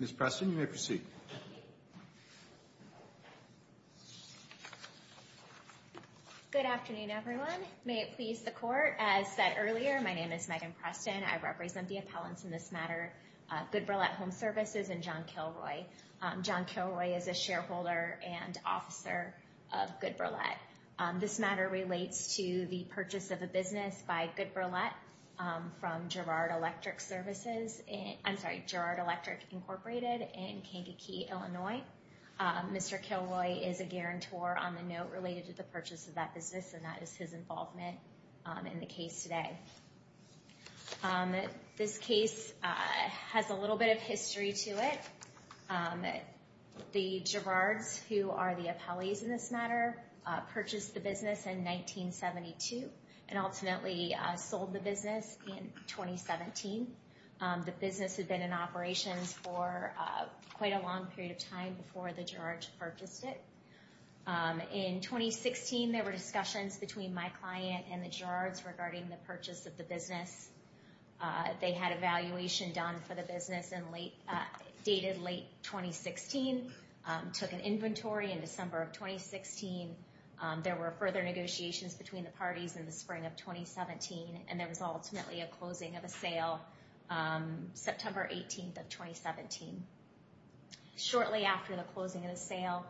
Ms. Preston, you may proceed. Good afternoon, everyone. As said earlier, my name is Megan Preston. I represent the appellants in this matter, Goodberlet Home Services, and John Kilroy. John Kilroy is a shareholder and officer of Goodberlet. This matter relates to the purchase of a business by Goodberlet from Girard Electric Services and, I'm sorry, Girard Electric Incorporated in Kankakee, Illinois. Mr. Kilroy is a guarantor on the note related to the purchase of that business, and that is the case today. This case has a little bit of history to it. The Girards, who are the appellees in this matter, purchased the business in 1972 and ultimately sold the business in 2017. The business had been in operations for quite a long period of time before the Girards purchased it. In 2016, there were discussions between my client and the Girards regarding the purchase of the business. They had a valuation done for the business and dated late 2016, took an inventory in December of 2016. There were further negotiations between the parties in the spring of 2017, and there was ultimately a closing of a sale September 18th of 2017. Shortly after the closing of the sale,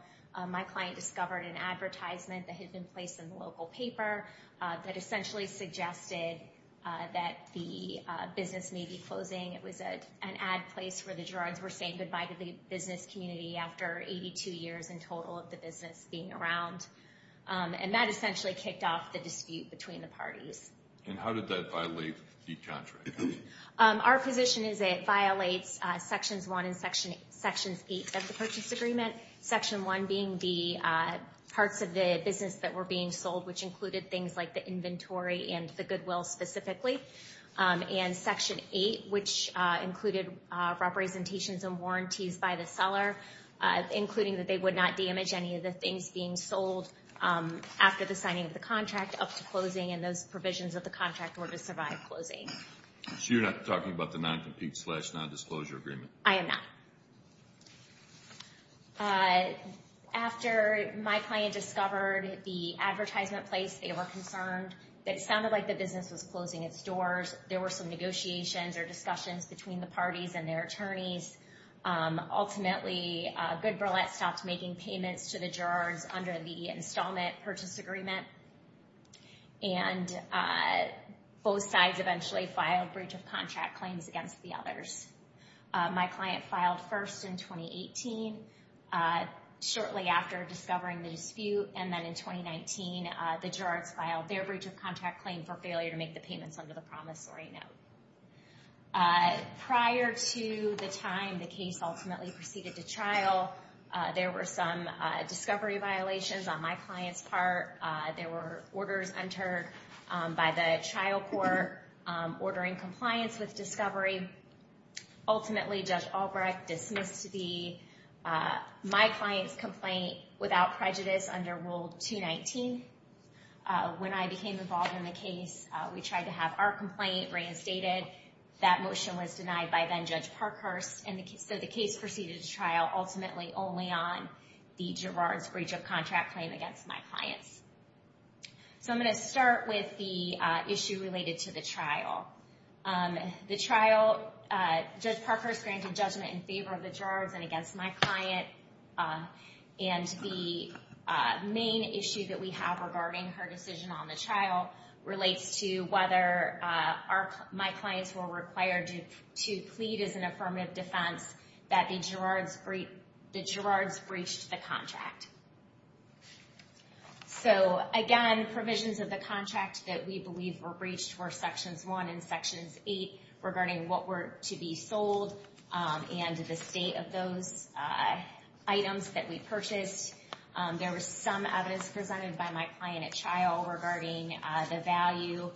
my client discovered an advertisement that had been placed in the local paper that essentially suggested that the business may be closing. It was an ad place where the Girards were saying goodbye to the business community after 82 years in total of the business being around, and that essentially kicked off the dispute between the parties. And how did that violate the contract? Our position is that it violates Sections 1 and Sections 8 of the Purchase Agreement. Section 1 being the parts of the business that were being sold, which included things like the inventory and the goodwill specifically. And Section 8, which included representations and warranties by the seller, including that they would not damage any of the things being sold after the signing of the contract up to closing, and those provisions of the contract were to survive closing. So you're not talking about the non-compete, slash, non-disclosure agreement? I am not. After my client discovered the advertisement place, they were concerned. It sounded like the business was closing its doors. There were some negotiations or discussions between the parties and their attorneys. Ultimately, Good Burlett stopped making payments to the Girards under the installment purchase agreement, and both sides eventually filed breach of contract claims against the others. My client filed first in 2018, shortly after discovering the dispute, and then in 2019, the Girards filed their breach of contract claim for failure to make the payments under the promissory note. Prior to the time the case ultimately proceeded to trial, there were some discovery violations on my client's part. There were orders entered by the trial court ordering compliance with discovery. Ultimately, Judge Albrecht dismissed my client's complaint without prejudice under Rule 219. When I became involved in the case, we tried to have our complaint reinstated. That motion was denied by then-Judge Parkhurst, and so the case proceeded to trial ultimately only on the Girards breach of contract claim against my clients. I'm going to start with the issue related to the trial. The trial, Judge Parkhurst granted judgment in favor of the Girards and against my client. The main issue that we have regarding her decision on the trial relates to whether my client and the Girards breached the contract. So again, provisions of the contract that we believe were breached were Sections 1 and Sections 8 regarding what were to be sold and the state of those items that we purchased. There was some evidence presented by my client at trial regarding the value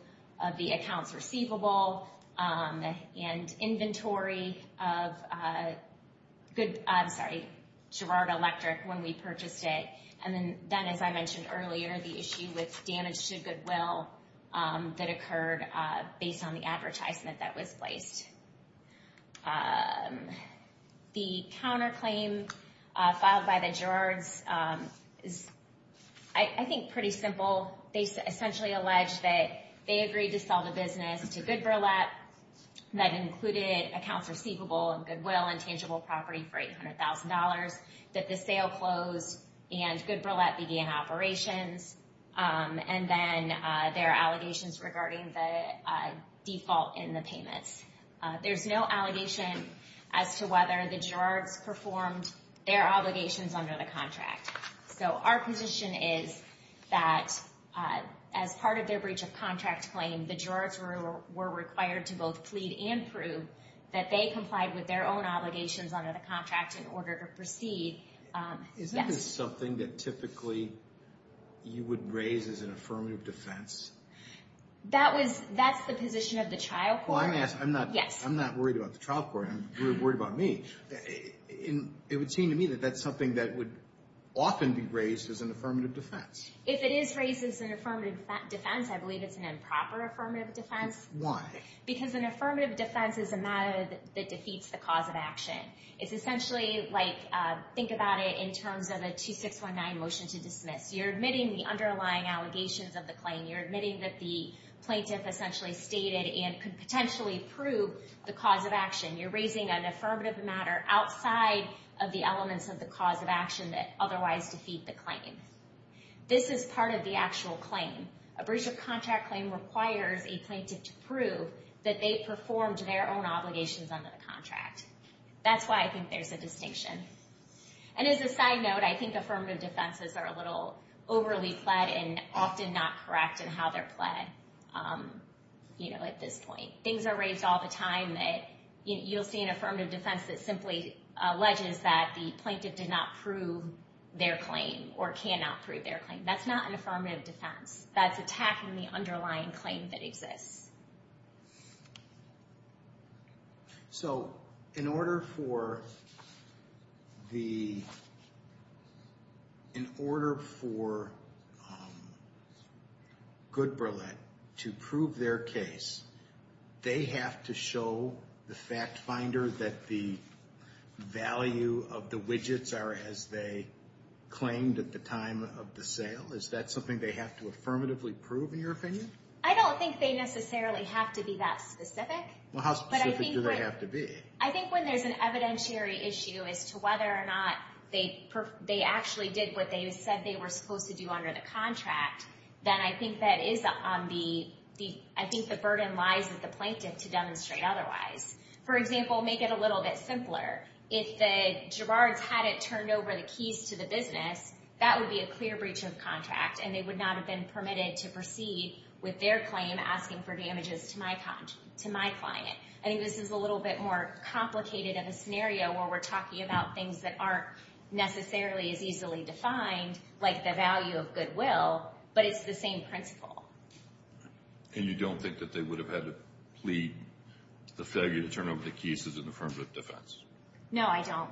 of the accounts receivable and inventory of Girard Electric when we purchased it, and then, as I mentioned earlier, the issue with damage to goodwill that occurred based on the advertisement that was placed. The counterclaim filed by the Girards is, I think, pretty simple. They essentially allege that they agreed to sell the business to GoodBurlap that included accounts receivable and goodwill and tangible property for $800,000, that the sale closed and GoodBurlap began operations, and then there are allegations regarding the default in the payments. There's no allegation as to whether the Girards performed their obligations under the contract. So our position is that as part of their breach of contract claim, the Girards were required to both plead and prove that they complied with their own obligations under the contract in order to proceed. Is that something that typically you would raise as an affirmative defense? That was, that's the position of the trial court. Well, I'm asking, I'm not worried about the trial court, I'm worried about me. It would seem to me that that's something that would often be raised as an affirmative defense. If it is raised as an affirmative defense, I believe it's an improper affirmative defense. Why? Because an affirmative defense is a matter that defeats the cause of action. It's essentially like, think about it in terms of a 2619 motion to dismiss. You're admitting the underlying allegations of the claim. You're admitting that the plaintiff essentially stated and could potentially prove the cause of action. You're raising an affirmative matter outside of the elements of the cause of action that otherwise defeat the claim. This is part of the actual claim. A breach of contract claim requires a plaintiff to prove that they performed their own obligations under the contract. That's why I think there's a distinction. And as a side note, I think affirmative defenses are a little overly pled and often not correct in how they're pled, you know, at this point. Things are raised all the time that you'll see an affirmative defense that simply alleges that the plaintiff did not prove their claim or cannot prove their claim. That's not an affirmative defense. That's attacking the underlying claim that exists. So, in order for the, in order for Good Brillette to prove their case, they have to show the fact finder that the value of the widgets are as they claimed at the time of the sale? Is that something they have to affirmatively prove, in your opinion? I don't think they necessarily have to be that specific. Well, how specific do they have to be? I think when there's an evidentiary issue as to whether or not they actually did what they said they were supposed to do under the contract, then I think that is on the, I think the burden lies with the plaintiff to demonstrate otherwise. For example, make it a little bit simpler. If the Gerards hadn't turned over the keys to the business, that would be a clear breach of contract, and they would not have been permitted to proceed with their claim asking for damages to my client. I think this is a little bit more complicated of a scenario where we're talking about things that aren't necessarily as easily defined, like the value of goodwill, but it's the same principle. And you don't think that they would have had to plead the failure to turn over the keys as an affirmative defense? No, I don't.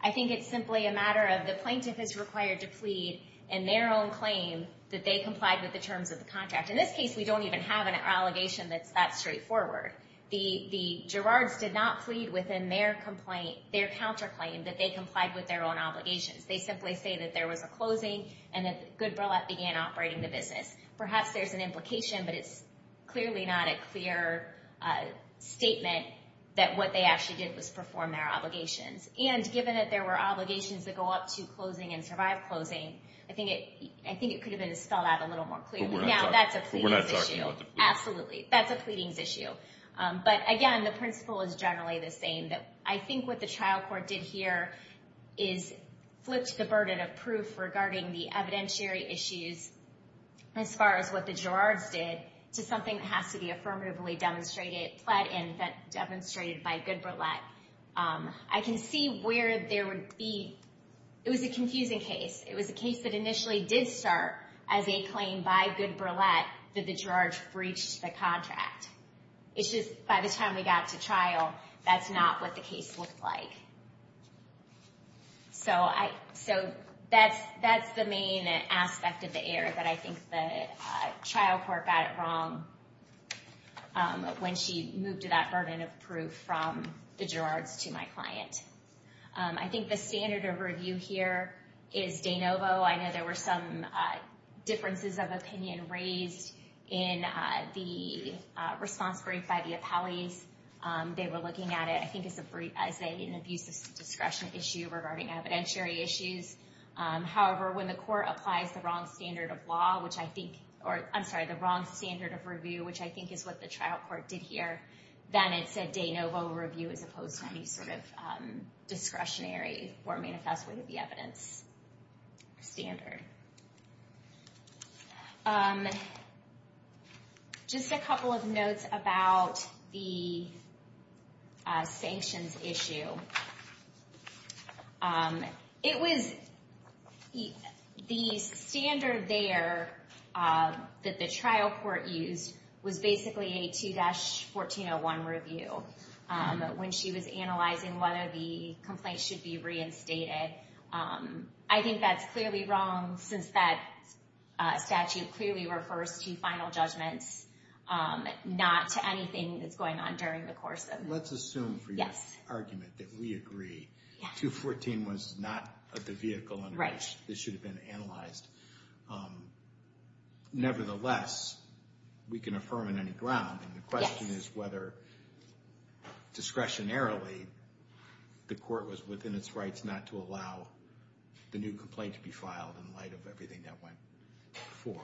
I think it's simply a matter of the plaintiff is required to plead in their own claim that they complied with the terms of the contract. In this case, we don't even have an allegation that's that straightforward. The Gerards did not plead within their complaint, their counterclaim, that they complied with their own obligations. They simply say that there was a closing and that Good Brillat began operating the business. Perhaps there's an implication, but it's clearly not a clear statement that what they actually did was perform their obligations. And given that there were obligations that go up to closing and survive closing, I think it could have been spelled out a little more clearly. Now, that's a pleadings issue. Absolutely. That's a pleadings issue. But again, the principle is generally the same. I think what the trial court did here is flipped the burden of proof regarding the evidentiary issues as far as what the Gerards did to something that has to be affirmatively demonstrated, pled in, demonstrated by Good Brillat. I can see where there would be, it was a confusing case. It was a case that initially did start as a claim by Good Brillat that the Gerards breached the contract. It's just by the time we got to trial, that's not what the case looked like. So that's the main aspect of the error that I think the trial court got it wrong when she moved to that burden of proof from the Gerards to my client. I think the standard of review here is de novo. I know there were some differences of opinion raised in the response brief by the appellees. They were looking at it, I think, as an abuse of discretion issue regarding evidentiary issues. However, when the court applies the wrong standard of law, which I think, or I'm sorry, the wrong standard of review, which I think is what the trial court did here, then it's a de novo review as opposed to any sort of discretionary or manifest way to be evidence standard. Just a couple of notes about the sanctions issue. It was, the standard there that the trial court used was basically a 2-1401 review when she was analyzing whether the complaint should be reinstated. I think that's clearly wrong since that statute clearly refers to final judgments, not to anything that's going on during the course of. Let's assume for your argument that we agree. 214 was not the vehicle under which this should have been analyzed. Nevertheless, we can affirm on any ground. The question is whether discretionarily the court was within its rights not to allow the new complaint to be filed in light of everything that went before.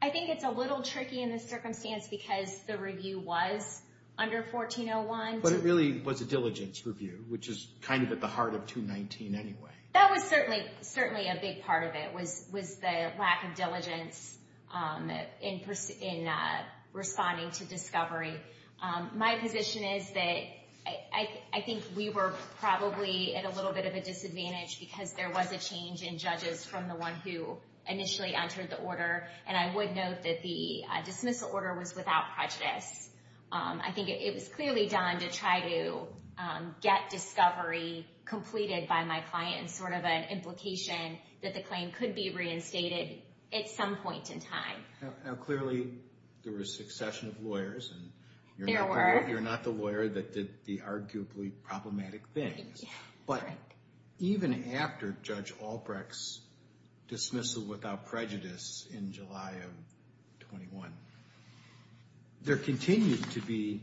I think it's a little tricky in this circumstance because the review was under 1401. But it really was a diligence review, which is kind of at the heart of 219 anyway. That was certainly a big part of it, was the lack of diligence in responding to discovery. My position is that I think we were probably at a little bit of a disadvantage because there was a change in judges from the one who initially entered the order. And I would note that the dismissal order was without prejudice. I think it was clearly done to try to get discovery completed by my client in sort of an implication that the claim could be reinstated at some point in time. Now clearly, there were a succession of lawyers. There were. You're not the lawyer that did the arguably problematic things. But even after Judge Albrecht's dismissal without prejudice in July of 21, there continued to be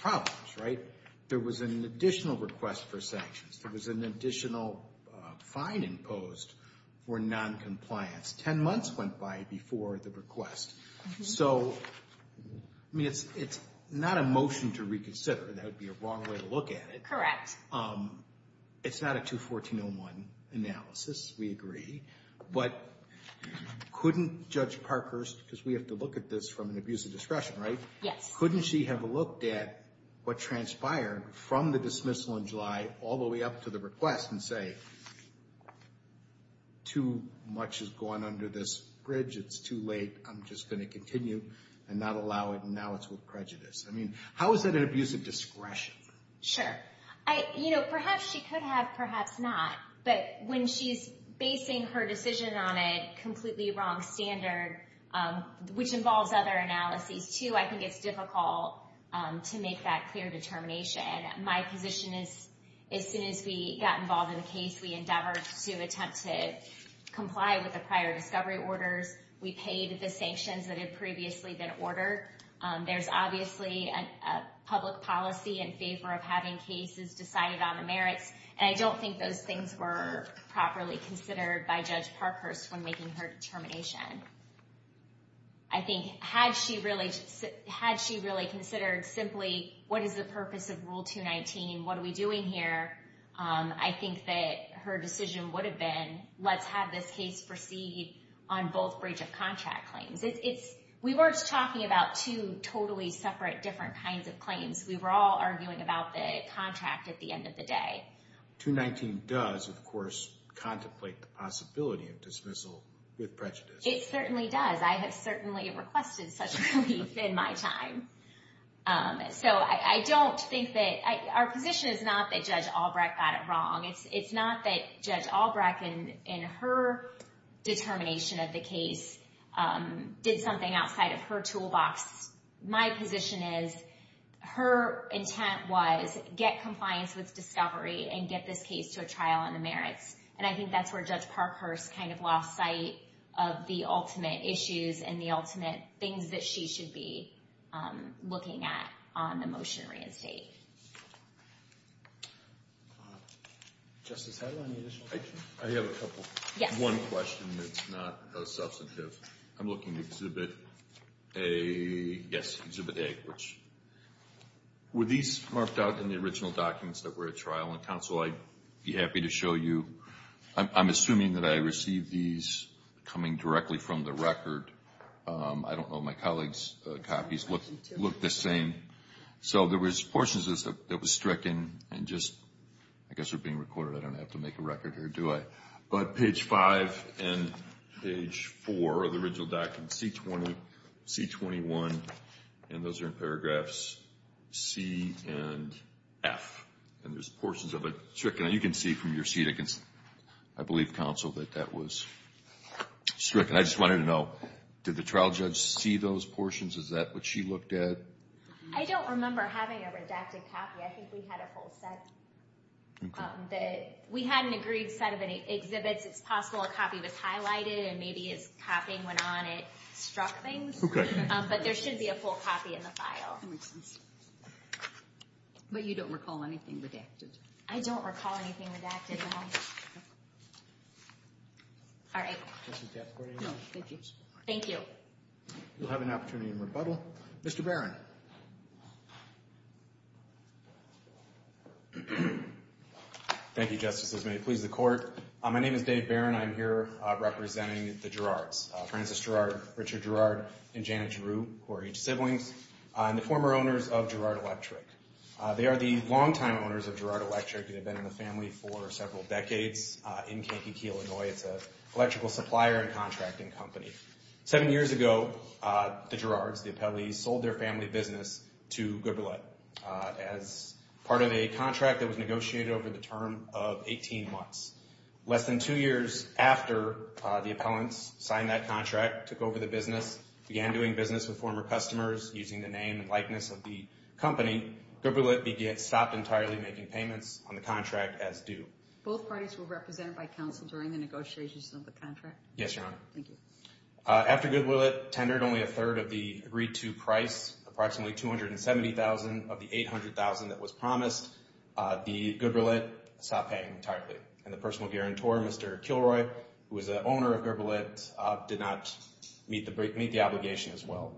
problems, right? There was an additional request for sanctions. There was an additional fine imposed for noncompliance. Ten months went by before the request. So I mean, it's not a motion to reconsider. That would be a wrong way to look at it. Correct. It's not a 214-01 analysis. We agree. But couldn't Judge Parkhurst, because we have to look at this from an abuse of discretion, right? Yes. Couldn't she have looked at what transpired from the dismissal in July all the way up to the request and say, too much has gone under this bridge. It's too late. I'm just going to continue and not allow it. And now it's with prejudice. I mean, how is that an abuse of discretion? Sure. Perhaps she could have, perhaps not. But when she's basing her decision on a completely wrong standard, which involves other analyses, too, I think it's difficult to make that clear determination. My position is, as soon as we got involved in the case, we endeavored to attempt to comply with the prior discovery orders. We paid the sanctions that had previously been ordered. There's obviously a public policy in favor of having cases decided on the merits. And I don't think those things were properly considered by Judge Parkhurst when making her determination. I think, had she really considered simply, what is the purpose of Rule 219? What are we doing here? I think that her decision would have been, let's have this case proceed on both breach of contract claims. We weren't talking about two totally separate, different kinds of claims. We were all arguing about the contract at the end of the day. 219 does, of course, contemplate the possibility of dismissal with prejudice. It certainly does. I have certainly requested such relief in my time. Our position is not that Judge Albrecht got it wrong. It's not that Judge Albrecht, in her determination of the case, did something outside of her toolbox. My position is, her intent was, get compliance with discovery and get this case to a trial on the merits. And I think that's where Judge Parkhurst kind of lost sight of the ultimate issues and the ultimate things that she should be looking at on the motion to reinstate. Justice Heidel, any additional questions? I have a couple. Yes. One question that's not substantive. I'm looking at Exhibit A, yes, Exhibit A, which were these marked out in the original documents that were at trial? And, counsel, I'd be happy to show you. I'm assuming that I received these coming directly from the record. I don't know. My colleague's copies look the same. So there was portions that was stricken and just, I guess, are being recorded. I don't have to make a record here, do I? But page 5 and page 4 of the original document, C20, C21, and those are in paragraphs C and F. And there's portions of it stricken. And you can see from your seat, I believe, counsel, that that was stricken. I just wanted to know, did the trial judge see those portions? Is that what she looked at? I don't remember having a redacted copy. I think we had a full set. We had an agreed set of exhibits. It's possible a copy was highlighted and maybe as copying went on, it struck things. But there should be a full copy in the file. But you don't recall anything redacted? I don't recall anything redacted at all. All right. Thank you. We'll have an opportunity in rebuttal. Mr. Barron. Thank you, Justice. This may please the Court. My name is Dave Barron. I'm here representing the Gerrards, Francis Gerrard, Richard Gerrard, and Janet Giroux, who are each siblings, and the former owners of Gerrard Electric. They are the longtime owners of Gerrard Electric and have been in the family for several decades in Kankakee, Illinois. It's an electrical supplier and contracting company. Seven years ago, the Gerrards, the appellees, sold their family business to Gooberlett as part of a contract that was negotiated over the term of 18 months. Less than two years after the appellants signed that contract, took over the business, began doing business with former customers using the name and likeness of the company, Gooberlett stopped entirely making payments on the contract as due. Both parties were represented by counsel during the negotiations of the contract? Yes, Your Honor. Thank you. After Gooberlett tendered only a third of the agreed-to price, approximately $270,000 of the $800,000 that was promised, the Gooberlett stopped paying entirely. And the personal guarantor, Mr. Kilroy, who was the owner of Gooberlett, did not meet the obligation as well.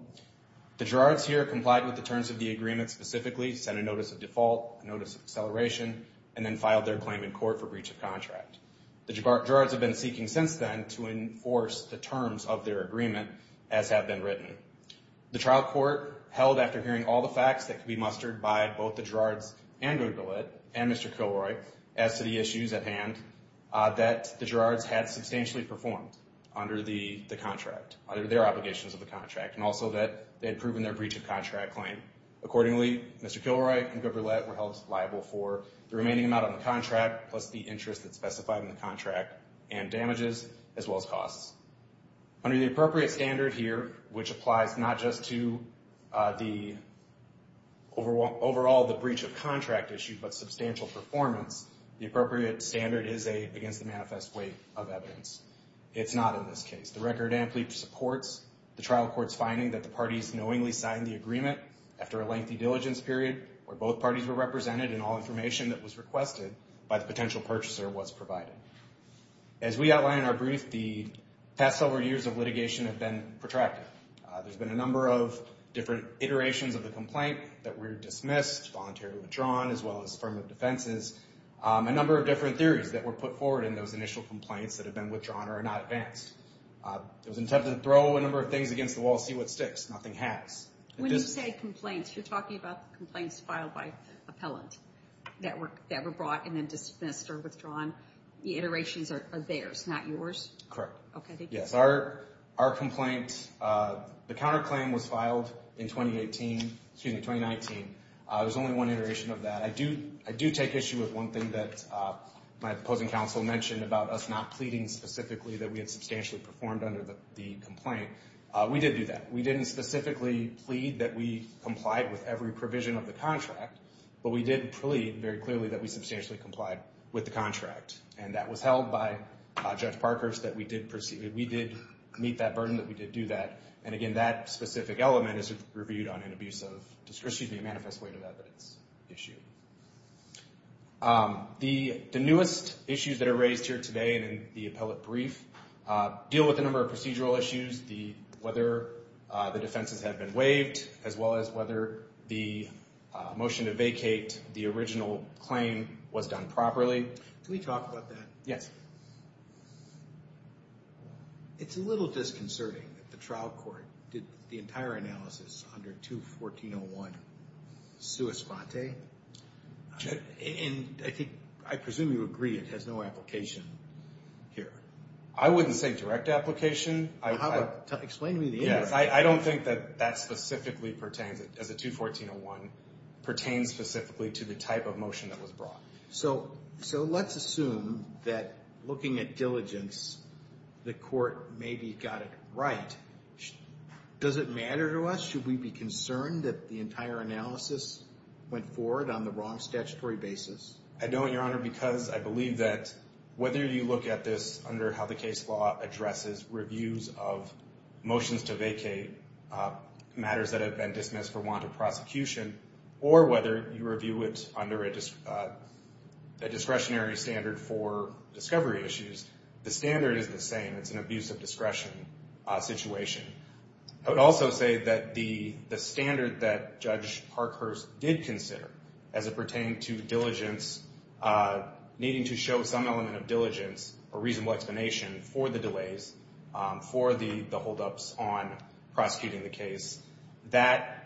The Gerrards here complied with the terms of the agreement specifically, sent a notice of default, a notice of acceleration, and then filed their claim in court for breach of contract. The Gerrards have been seeking since then to enforce the terms of their agreement as have been written. The trial court held after hearing all the facts that could be mustered by both the Gerrards and Gooberlett and Mr. Kilroy as to the issues at hand, that the Gerrards had substantially performed under the contract, under their obligations of the contract, and also that they had proven their breach of contract claim. Accordingly, Mr. Kilroy and Gooberlett were held liable for the remaining amount on the contract, plus the interest that's specified in the contract, and damages, as well as costs. Under the appropriate standard here, which applies not just to the overall the breach of contract issue, but substantial performance, the appropriate standard is against the manifest weight of evidence. It's not in this case. The record amply supports the trial court's finding that the parties knowingly signed the agreement after a lengthy diligence period, where both parties were represented and all information that was requested by the potential purchaser was provided. As we outlined in our brief, the past several years of litigation have been protracted. There's been a number of different iterations of the complaint that were dismissed, voluntarily withdrawn, as well as affirmative defenses. A number of different theories that were put forward in those initial complaints that have been withdrawn or are not advanced. It was intended to throw a number of things against the wall, see what sticks. Nothing has. When you say complaints, you're talking about complaints filed by appellant that were brought and then dismissed or withdrawn. The iterations are theirs, not yours? Correct. Okay. Yes. Our complaint, the counterclaim was filed in 2018, excuse me, 2019. There's only one iteration of that. I do take issue with one thing that my opposing counsel mentioned about us not pleading specifically that we had substantially performed under the complaint. We did do that. We didn't specifically plead that we complied with every provision of the contract, but we did plead very clearly that we substantially complied with the contract. And that was held by Judge Parkhurst that we did proceed. We did meet that burden that we did do that. And again, that specific element is reviewed on an abuse of, excuse me, manifest weight of evidence issue. The newest issues that are raised here today and in the appellate brief deal with a number of procedural issues. Whether the defenses have been waived, as well as whether the motion to vacate the original claim was done properly. Can we talk about that? Yes. It's a little disconcerting that the trial court did the entire analysis under 214-01 sui sponte. And I presume you agree it has no application here. I wouldn't say direct application. Explain to me the answer. I don't think that that specifically pertains, as a 214-01 pertains specifically to the type of motion that was brought. So let's assume that looking at diligence, the court maybe got it right. Does it matter to us? Should we be concerned that the entire analysis went forward on the wrong statutory basis? I don't, Your Honor, because I believe that whether you look at this under how the case law addresses reviews of motions to vacate matters that have been dismissed for want of prosecution, or whether you review it under a discretionary standard for discovery issues, the standard is the same. It's an abuse of discretion situation. I would also say that the standard that Judge Parkhurst did consider as it pertained to diligence, needing to show some element of diligence or reasonable explanation for the delays, for the holdups on prosecuting the case, that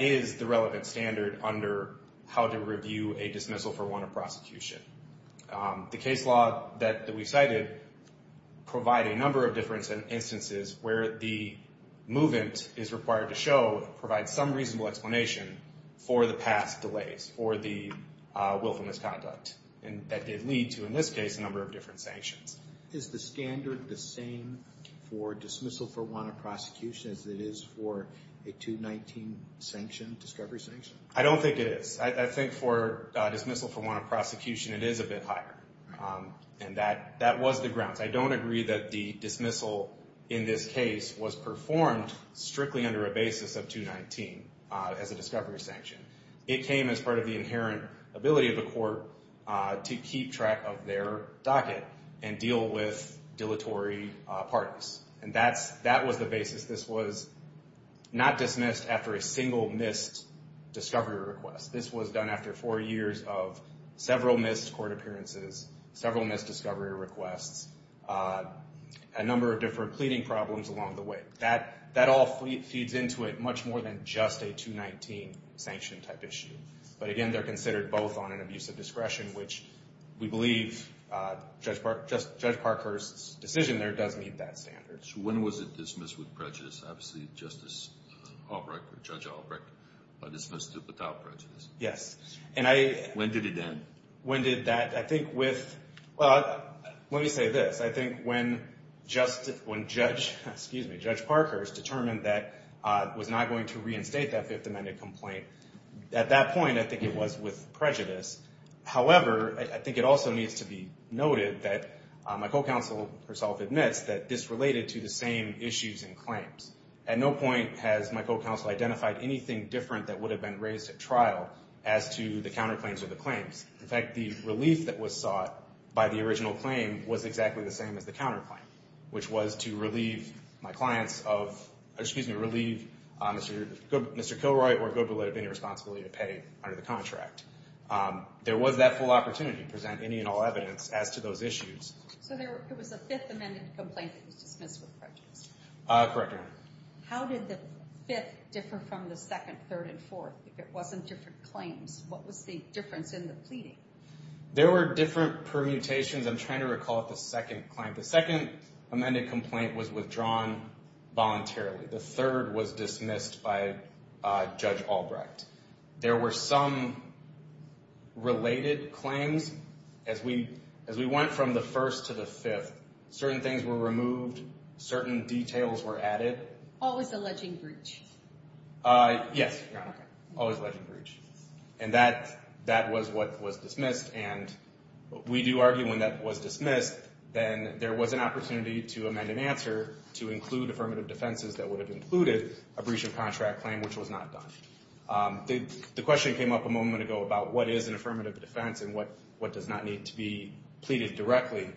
is the relevant standard under how to review a dismissal for want of prosecution. The case law that we cited provide a number of different instances where the movement is required to show, provide some reasonable explanation for the past delays, for the willful misconduct. And that did lead to, in this case, a number of different sanctions. Is the standard the same for dismissal for want of prosecution as it is for a 219 sanction, discovery sanction? I don't think it is. I think for dismissal for want of prosecution, it is a bit higher. And that was the grounds. I don't agree that the dismissal in this case was performed strictly under a basis of 219 as a discovery sanction. It came as part of the inherent ability of the court to keep track of their docket and deal with dilatory parties. And that was the basis. This was not dismissed after a single missed discovery request. This was done after four years of several missed court appearances, several missed discovery requests, a number of different pleading problems along the way. That all feeds into it much more than just a 219 sanction type issue. But again, they're considered both on an abuse of discretion, which we believe Judge Parker's decision there does meet that standard. When was it dismissed with prejudice? Obviously, Justice Albrecht or Judge Albrecht dismissed it without prejudice. Yes. When did it end? When did that? I think with, well, let me say this. I think when Judge Parker's determined that was not going to reinstate that Fifth Amendment complaint. At that point, I think it was with prejudice. However, I think it also needs to be noted that my co-counsel herself admits that this related to the same issues and claims. At no point has my co-counsel identified anything different that would have been raised at trial as to the counterclaims or the claims. In fact, the relief that was sought by the original claim was exactly the same as the counterclaim, which was to relieve my clients of, excuse me, relieve Mr. Kilroy or Goodwill of any responsibility to pay under the contract. There was that full opportunity to present any and all evidence as to those issues. So it was a Fifth Amendment complaint that was dismissed with prejudice? Correct, Your Honor. How did the Fifth differ from the second, third, and fourth? If it wasn't different claims, what was the difference in the pleading? There were different permutations. I'm trying to recall the second claim. The second amended complaint was withdrawn voluntarily. The third was dismissed by Judge Albrecht. There were some related claims. As we went from the first to the fifth, certain things were removed. Certain details were added. Always alleging breach. Yes, Your Honor. Always alleging breach. And that was what was dismissed. And we do argue when that was dismissed, then there was an opportunity to amend an answer to include affirmative defenses that would have included a breach of contract claim, which was not done. The question came up a moment ago about what is an affirmative defense and what does not need to be pleaded directly.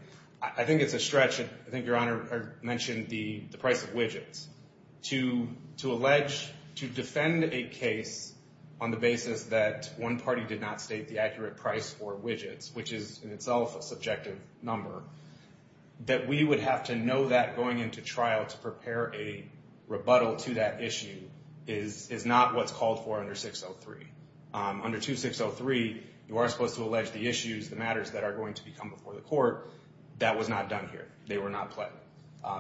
I think it's a stretch. I think Your Honor mentioned the price of widgets. To defend a case on the basis that one party did not state the accurate price for widgets, which is in itself a subjective number, that we would have to know that going into trial to prepare a rebuttal to that issue is not what's called for under 603. Under 2603, you are supposed to allege the issues, the matters that are going to become before the court. That was not done here. They were not pled.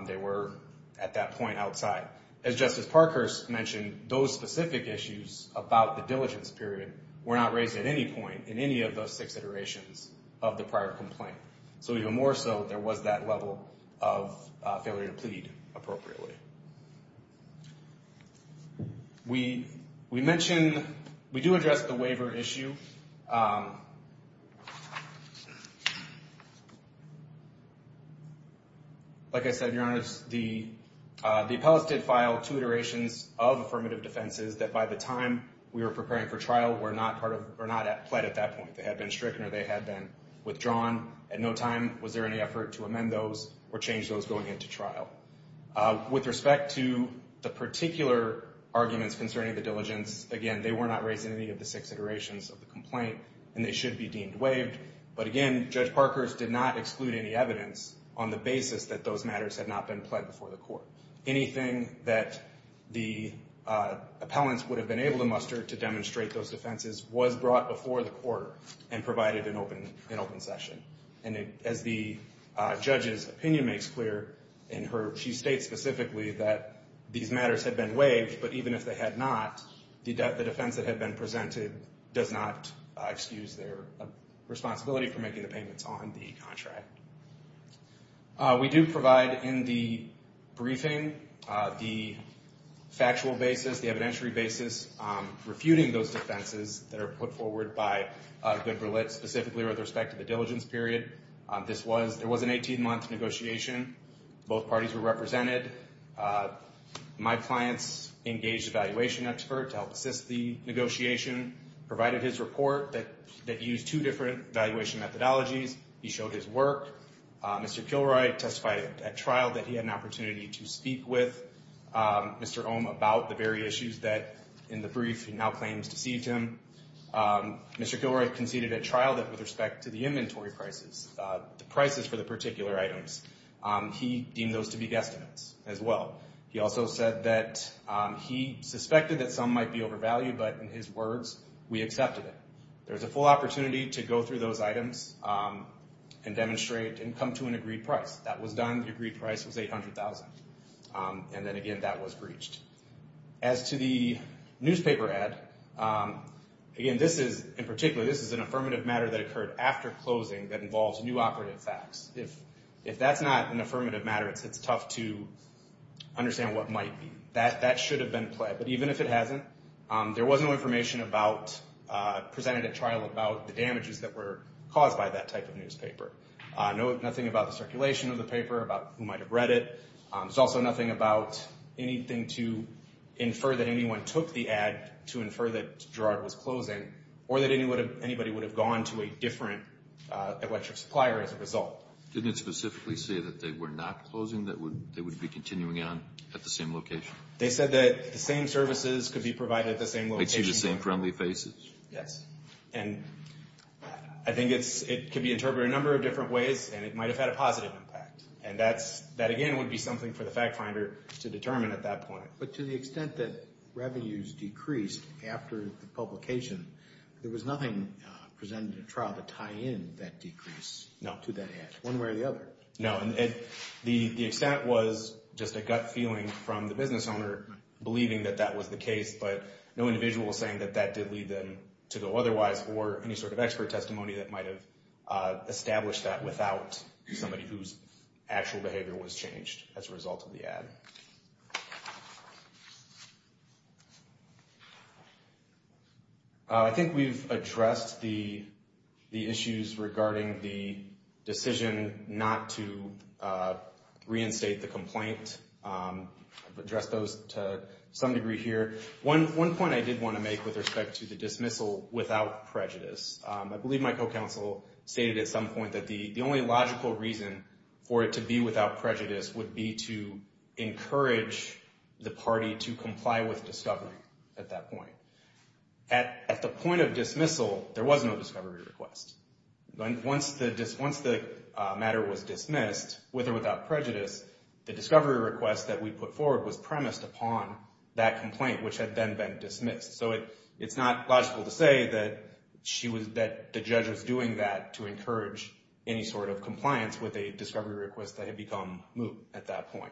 They were at that point outside. As Justice Parkhurst mentioned, those specific issues about the diligence period were not raised at any point in any of those six iterations of the prior complaint. So even more so, there was that level of failure to plead appropriately. We mentioned, we do address the waiver issue. Like I said, Your Honor, the appellate did file two iterations of affirmative defenses that by the time we were preparing for trial were not pled at that point. They had been stricken or they had been withdrawn. At no time was there any effort to amend those or change those going into trial. With respect to the particular arguments concerning the diligence, again, they were not raised in any of the six iterations of the complaint and they should be deemed waived. But again, Judge Parkhurst did not exclude any evidence on the basis that those matters had not been pled before the court. Anything that the appellants would have been able to muster to demonstrate those defenses was brought before the court and provided an open session. And as the judge's opinion makes clear, she states specifically that these matters had been waived, but even if they had not, the defense that had been presented does not excuse their responsibility for making the payments on the contract. We do provide in the briefing the factual basis, the evidentiary basis refuting those defenses that are put forward by Good Berlitz, specifically with respect to the diligence period. There was an 18-month negotiation. Both parties were represented. My clients engaged a valuation expert to help assist the negotiation. Provided his report that used two different valuation methodologies. He showed his work. Mr. Kilroy testified at trial that he had an opportunity to speak with Mr. Ohm about the very issues that in the brief he now claims deceived him. Mr. Kilroy conceded at trial that with respect to the inventory prices, the prices for the particular items, he deemed those to be guesstimates as well. He also said that he suspected that some might be overvalued, but in his words, we accepted it. There's a full opportunity to go through those items and demonstrate and come to an agreed price. That was done. The agreed price was 800,000. And then again, that was breached. As to the newspaper ad, again, this is, in particular, this is an affirmative matter that occurred after closing that involves new operative facts. If that's not an affirmative matter, it's tough to understand what might be. That should have been pled. But even if it hasn't, there was no information about, presented at trial, about the damages that were caused by that type of newspaper. Nothing about the circulation of the paper, about who might have read it. There's also nothing about anything to infer that anyone took the ad to infer that Girard was closing or that anybody would have gone to a different electric supplier as a result. Didn't it specifically say that they were not closing, that they would be continuing on at the same location? They said that the same services could be provided at the same location. They'd see the same friendly faces? Yes. And I think it's, it could be interpreted a number of different ways, and it might have had a positive impact. And that's, that again, would be something for the fact finder to determine at that point. But to the extent that revenues decreased after the publication, there was nothing presented at trial to tie in that decrease to that ad, one way or the other. No, and the extent was just a gut feeling from the business owner believing that that was the case, but no individual saying that that did lead them to go otherwise, or any sort of expert testimony that might have established that without somebody whose actual behavior was changed as a result of the ad. I think we've addressed the issues regarding the decision not to reinstate the complaint. I've addressed those to some degree here. One point I did want to make with respect to the dismissal without prejudice. I believe my co-counsel stated at some point that the only logical reason for it to be without prejudice would be to encourage the party to comply with discovery at that point. At the point of dismissal, there was no discovery request. Once the matter was dismissed, with or without prejudice, the discovery request that we put forward was premised upon that complaint, which had then been dismissed. So it's not logical to say that the judge was doing that to encourage any sort of compliance with a discovery request that had become moot at that point.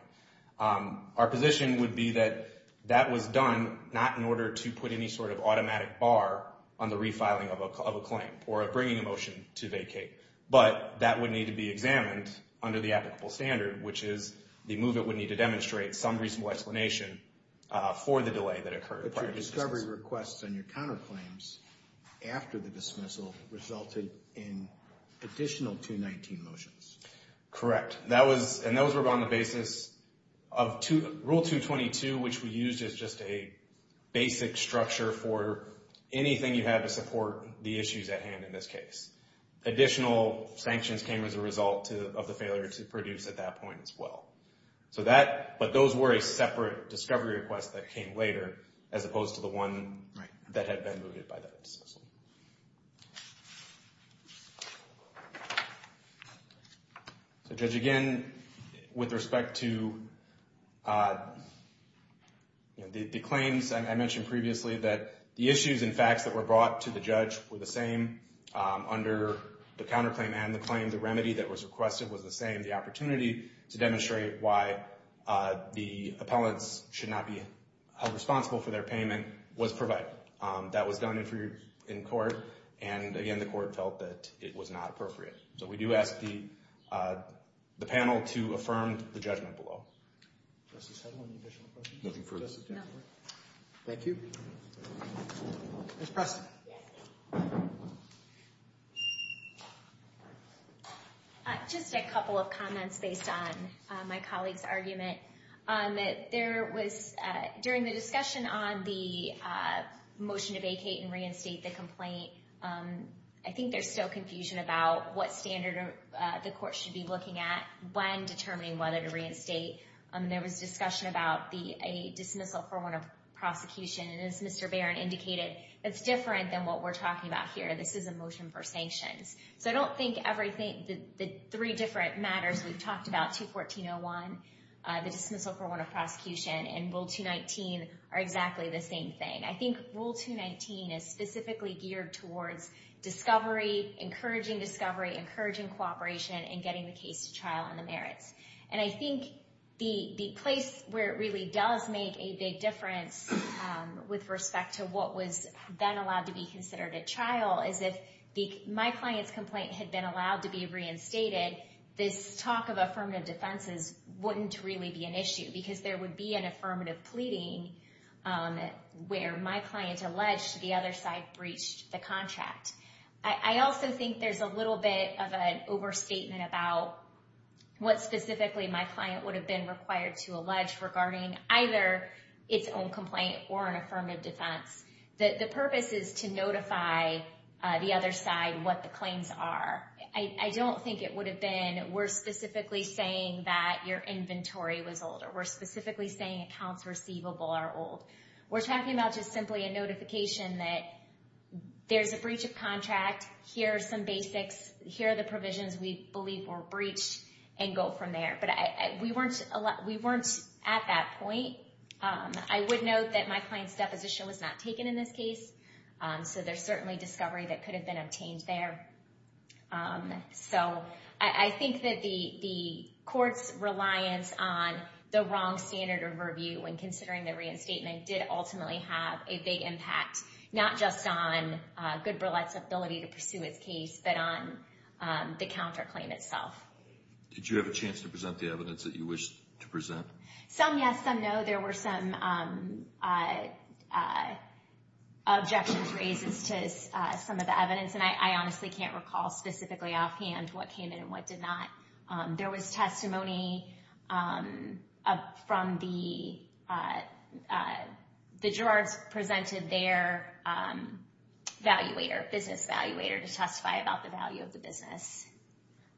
Our position would be that that was done not in order to put any sort of automatic bar on the refiling of a claim or bringing a motion to vacate, but that would need to be examined under the applicable standard, which is the movement would need to demonstrate some reasonable explanation for the delay that occurred. But your discovery requests and your counterclaims after the dismissal resulted in additional 219 motions. Correct. And those were on the basis of rule 222, which we used as just a basic structure for anything you had to support the issues at hand in this case. Additional sanctions came as a result of the failure to produce at that point as well. But those were a separate discovery request that came later as opposed to the one that had been mooted by that dismissal. So judge, again, with respect to the claims I mentioned previously that the issues and facts that were brought to the judge were the same under the counterclaim and the claim. The remedy that was requested was the same. The opportunity to demonstrate why the appellants should not be responsible for their payment was provided. That was done in court and again, the court felt that it was not appropriate. So we do ask the panel to affirm the judgment below. Thank you. Ms. Preston. Just a couple of comments based on my colleague's argument. During the discussion on the motion to vacate and reinstate the complaint, I think there's still confusion about what standard the court should be looking at when determining whether to reinstate. There was discussion about a dismissal for one of prosecution it's different than what we're talking about here. This is a motion for sanctions. So I don't think the three different matters we've talked about, 214.01, the dismissal for one of prosecution and Rule 219 are exactly the same thing. I think Rule 219 is specifically geared towards discovery, encouraging discovery, encouraging cooperation and getting the case to trial on the merits. And I think the place where it really does make a big difference with respect to what was then allowed to be considered a trial is if my client's complaint had been allowed to be reinstated, this talk of affirmative defenses wouldn't really be an issue because there would be an affirmative pleading where my client alleged the other side breached the contract. I also think there's a little bit of an overstatement about what specifically my client would have been required to allege regarding either its own complaint or an affirmative defense. The purpose is to notify the other side what the claims are. I don't think it would have been we're specifically saying that your inventory was old or we're specifically saying accounts receivable are old. We're talking about just simply a notification that there's a breach of contract. Here are some basics. Here are the provisions we believe were breached and go from there. But we weren't at that point. I would note that my client's deposition was not taken in this case. So there's certainly discovery that could have been obtained there. So I think that the court's reliance on the wrong standard of review when considering the reinstatement did ultimately have a big impact not just on Goodberlet's ability to pursue his case but on the counterclaim itself. Did you have a chance to present the evidence that you wished to present? Some yes, some no. There were some objections raised as to some of the evidence. And I honestly can't recall specifically offhand what came in and what did not. There was testimony from the, the Gerards presented their valuator, business valuator to testify about the value of the business.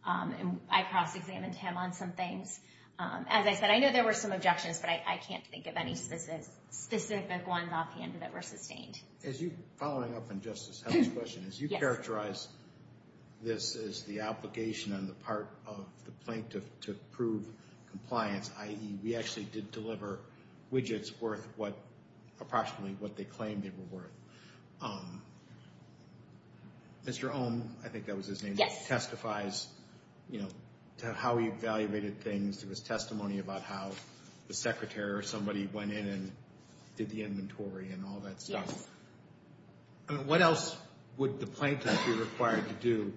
And I cross-examined him on some things. As I said, I know there were some objections but I can't think of specific ones offhand that were sustained. As you, following up on Justice Held's question, as you characterize this as the application on the part of the plaintiff to prove compliance, i.e. we actually did deliver widgets worth what, approximately what they claimed they were worth. Mr. Ohm, I think that was his name, testifies to how he evaluated things. There was testimony about how the secretary or somebody went in and did the inventory and all that stuff. I mean, what else would the plaintiff be required to do,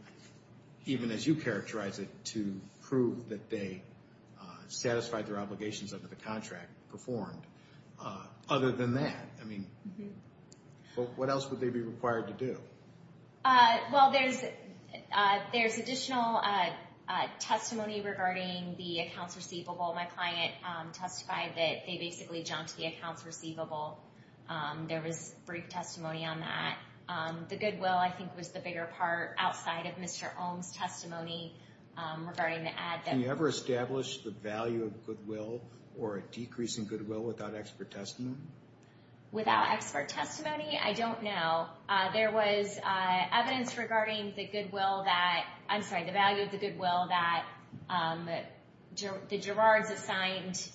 even as you characterize it, to prove that they satisfied their obligations under the contract performed? Other than that, I mean, what else would they be required to do? Well, there's, there's additional testimony regarding the accounts receivable. My client testified that they basically jumped the accounts receivable. There was brief testimony on that. The goodwill, I think, was the bigger part outside of Mr. Ohm's testimony regarding the ad. Can you ever establish the value of goodwill or a decrease in goodwill without expert testimony? Without expert testimony? I don't know. There was evidence regarding the goodwill that, I'm sorry, the value of the goodwill that the Girards assigned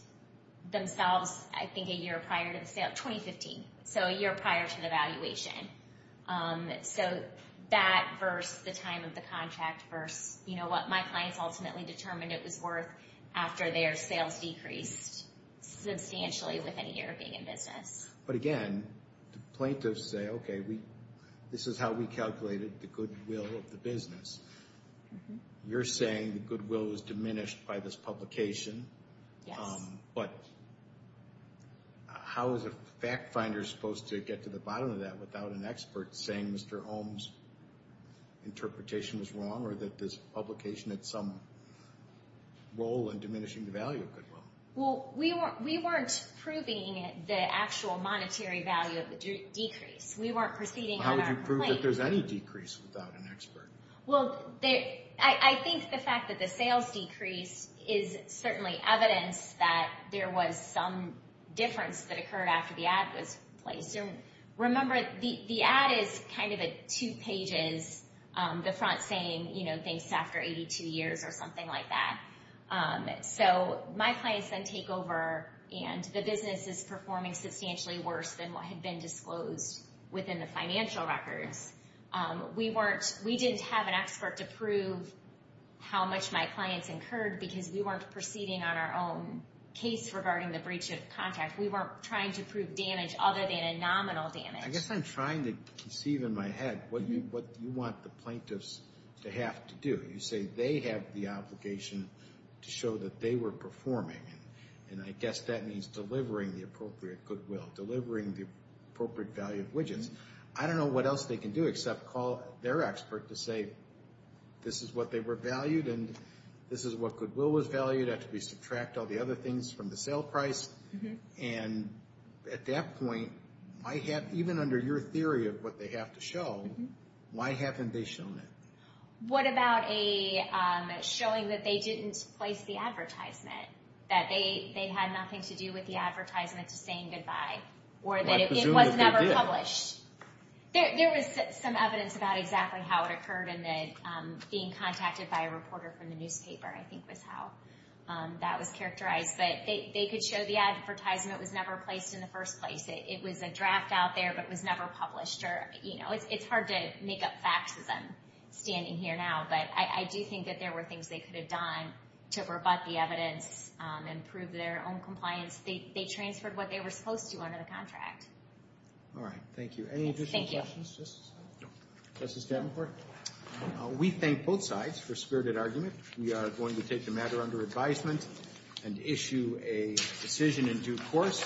themselves, I think, a year prior to the sale, 2015. So a year prior to the valuation. So that versus the time of the contract versus, you know, what my clients ultimately determined it was worth after their sales decreased substantially within a year of being in business. But again, plaintiffs say, okay, we, this is how we calculated the goodwill of the business. You're saying the goodwill was diminished by this publication. Yes. But how is a fact finder supposed to get to the bottom of that without an expert saying Mr. Ohm's interpretation was wrong or that this publication had some role in diminishing the value of goodwill? Well, we weren't proving the actual monetary value of the decrease. We weren't proceeding on our claim. How would you prove that there's any decrease without an expert? Well, I think the fact that the sales decrease is certainly evidence that there was some difference that occurred after the ad was placed. Remember the ad is kind of a two pages, the front saying, you know, thanks after 82 years or something like that. So my clients then take over and the business is performing substantially worse than what had been disclosed within the financial records. We weren't, we didn't have an expert to prove how much my clients incurred because we weren't proceeding on our own case regarding the breach of contract. We weren't trying to prove damage other than a nominal damage. I guess I'm trying to conceive in my head what you want the plaintiffs to have to do. You say they have the obligation to show that they were performing and I guess that means delivering the appropriate goodwill, delivering the appropriate value of widgets. I don't know what else they can do except call their expert to say this is what they were valued and this is what goodwill was valued after we subtract all the other things from the sale price and at that point even under your theory of what they have to show, why haven't they shown it? What about showing that they didn't place the advertisement, that they had nothing to do with the advertisement to saying goodbye or that it was never published? There was some evidence about exactly how it occurred and that being contacted by a reporter from the newspaper I think was how that was characterized but they could show the advertisement was never placed in the first place. It was a draft out there but it was never published or it's hard to make up facts as I'm standing here now but I do think that there were things they could have done to rebut the evidence and prove their own compliance. They transferred what they were supposed to under the contract. All right. Thank you. Any additional questions? Just a second. Justice Davenport, we thank both sides for spirited argument. We are going to take the matter under advisement and issue a decision in due course.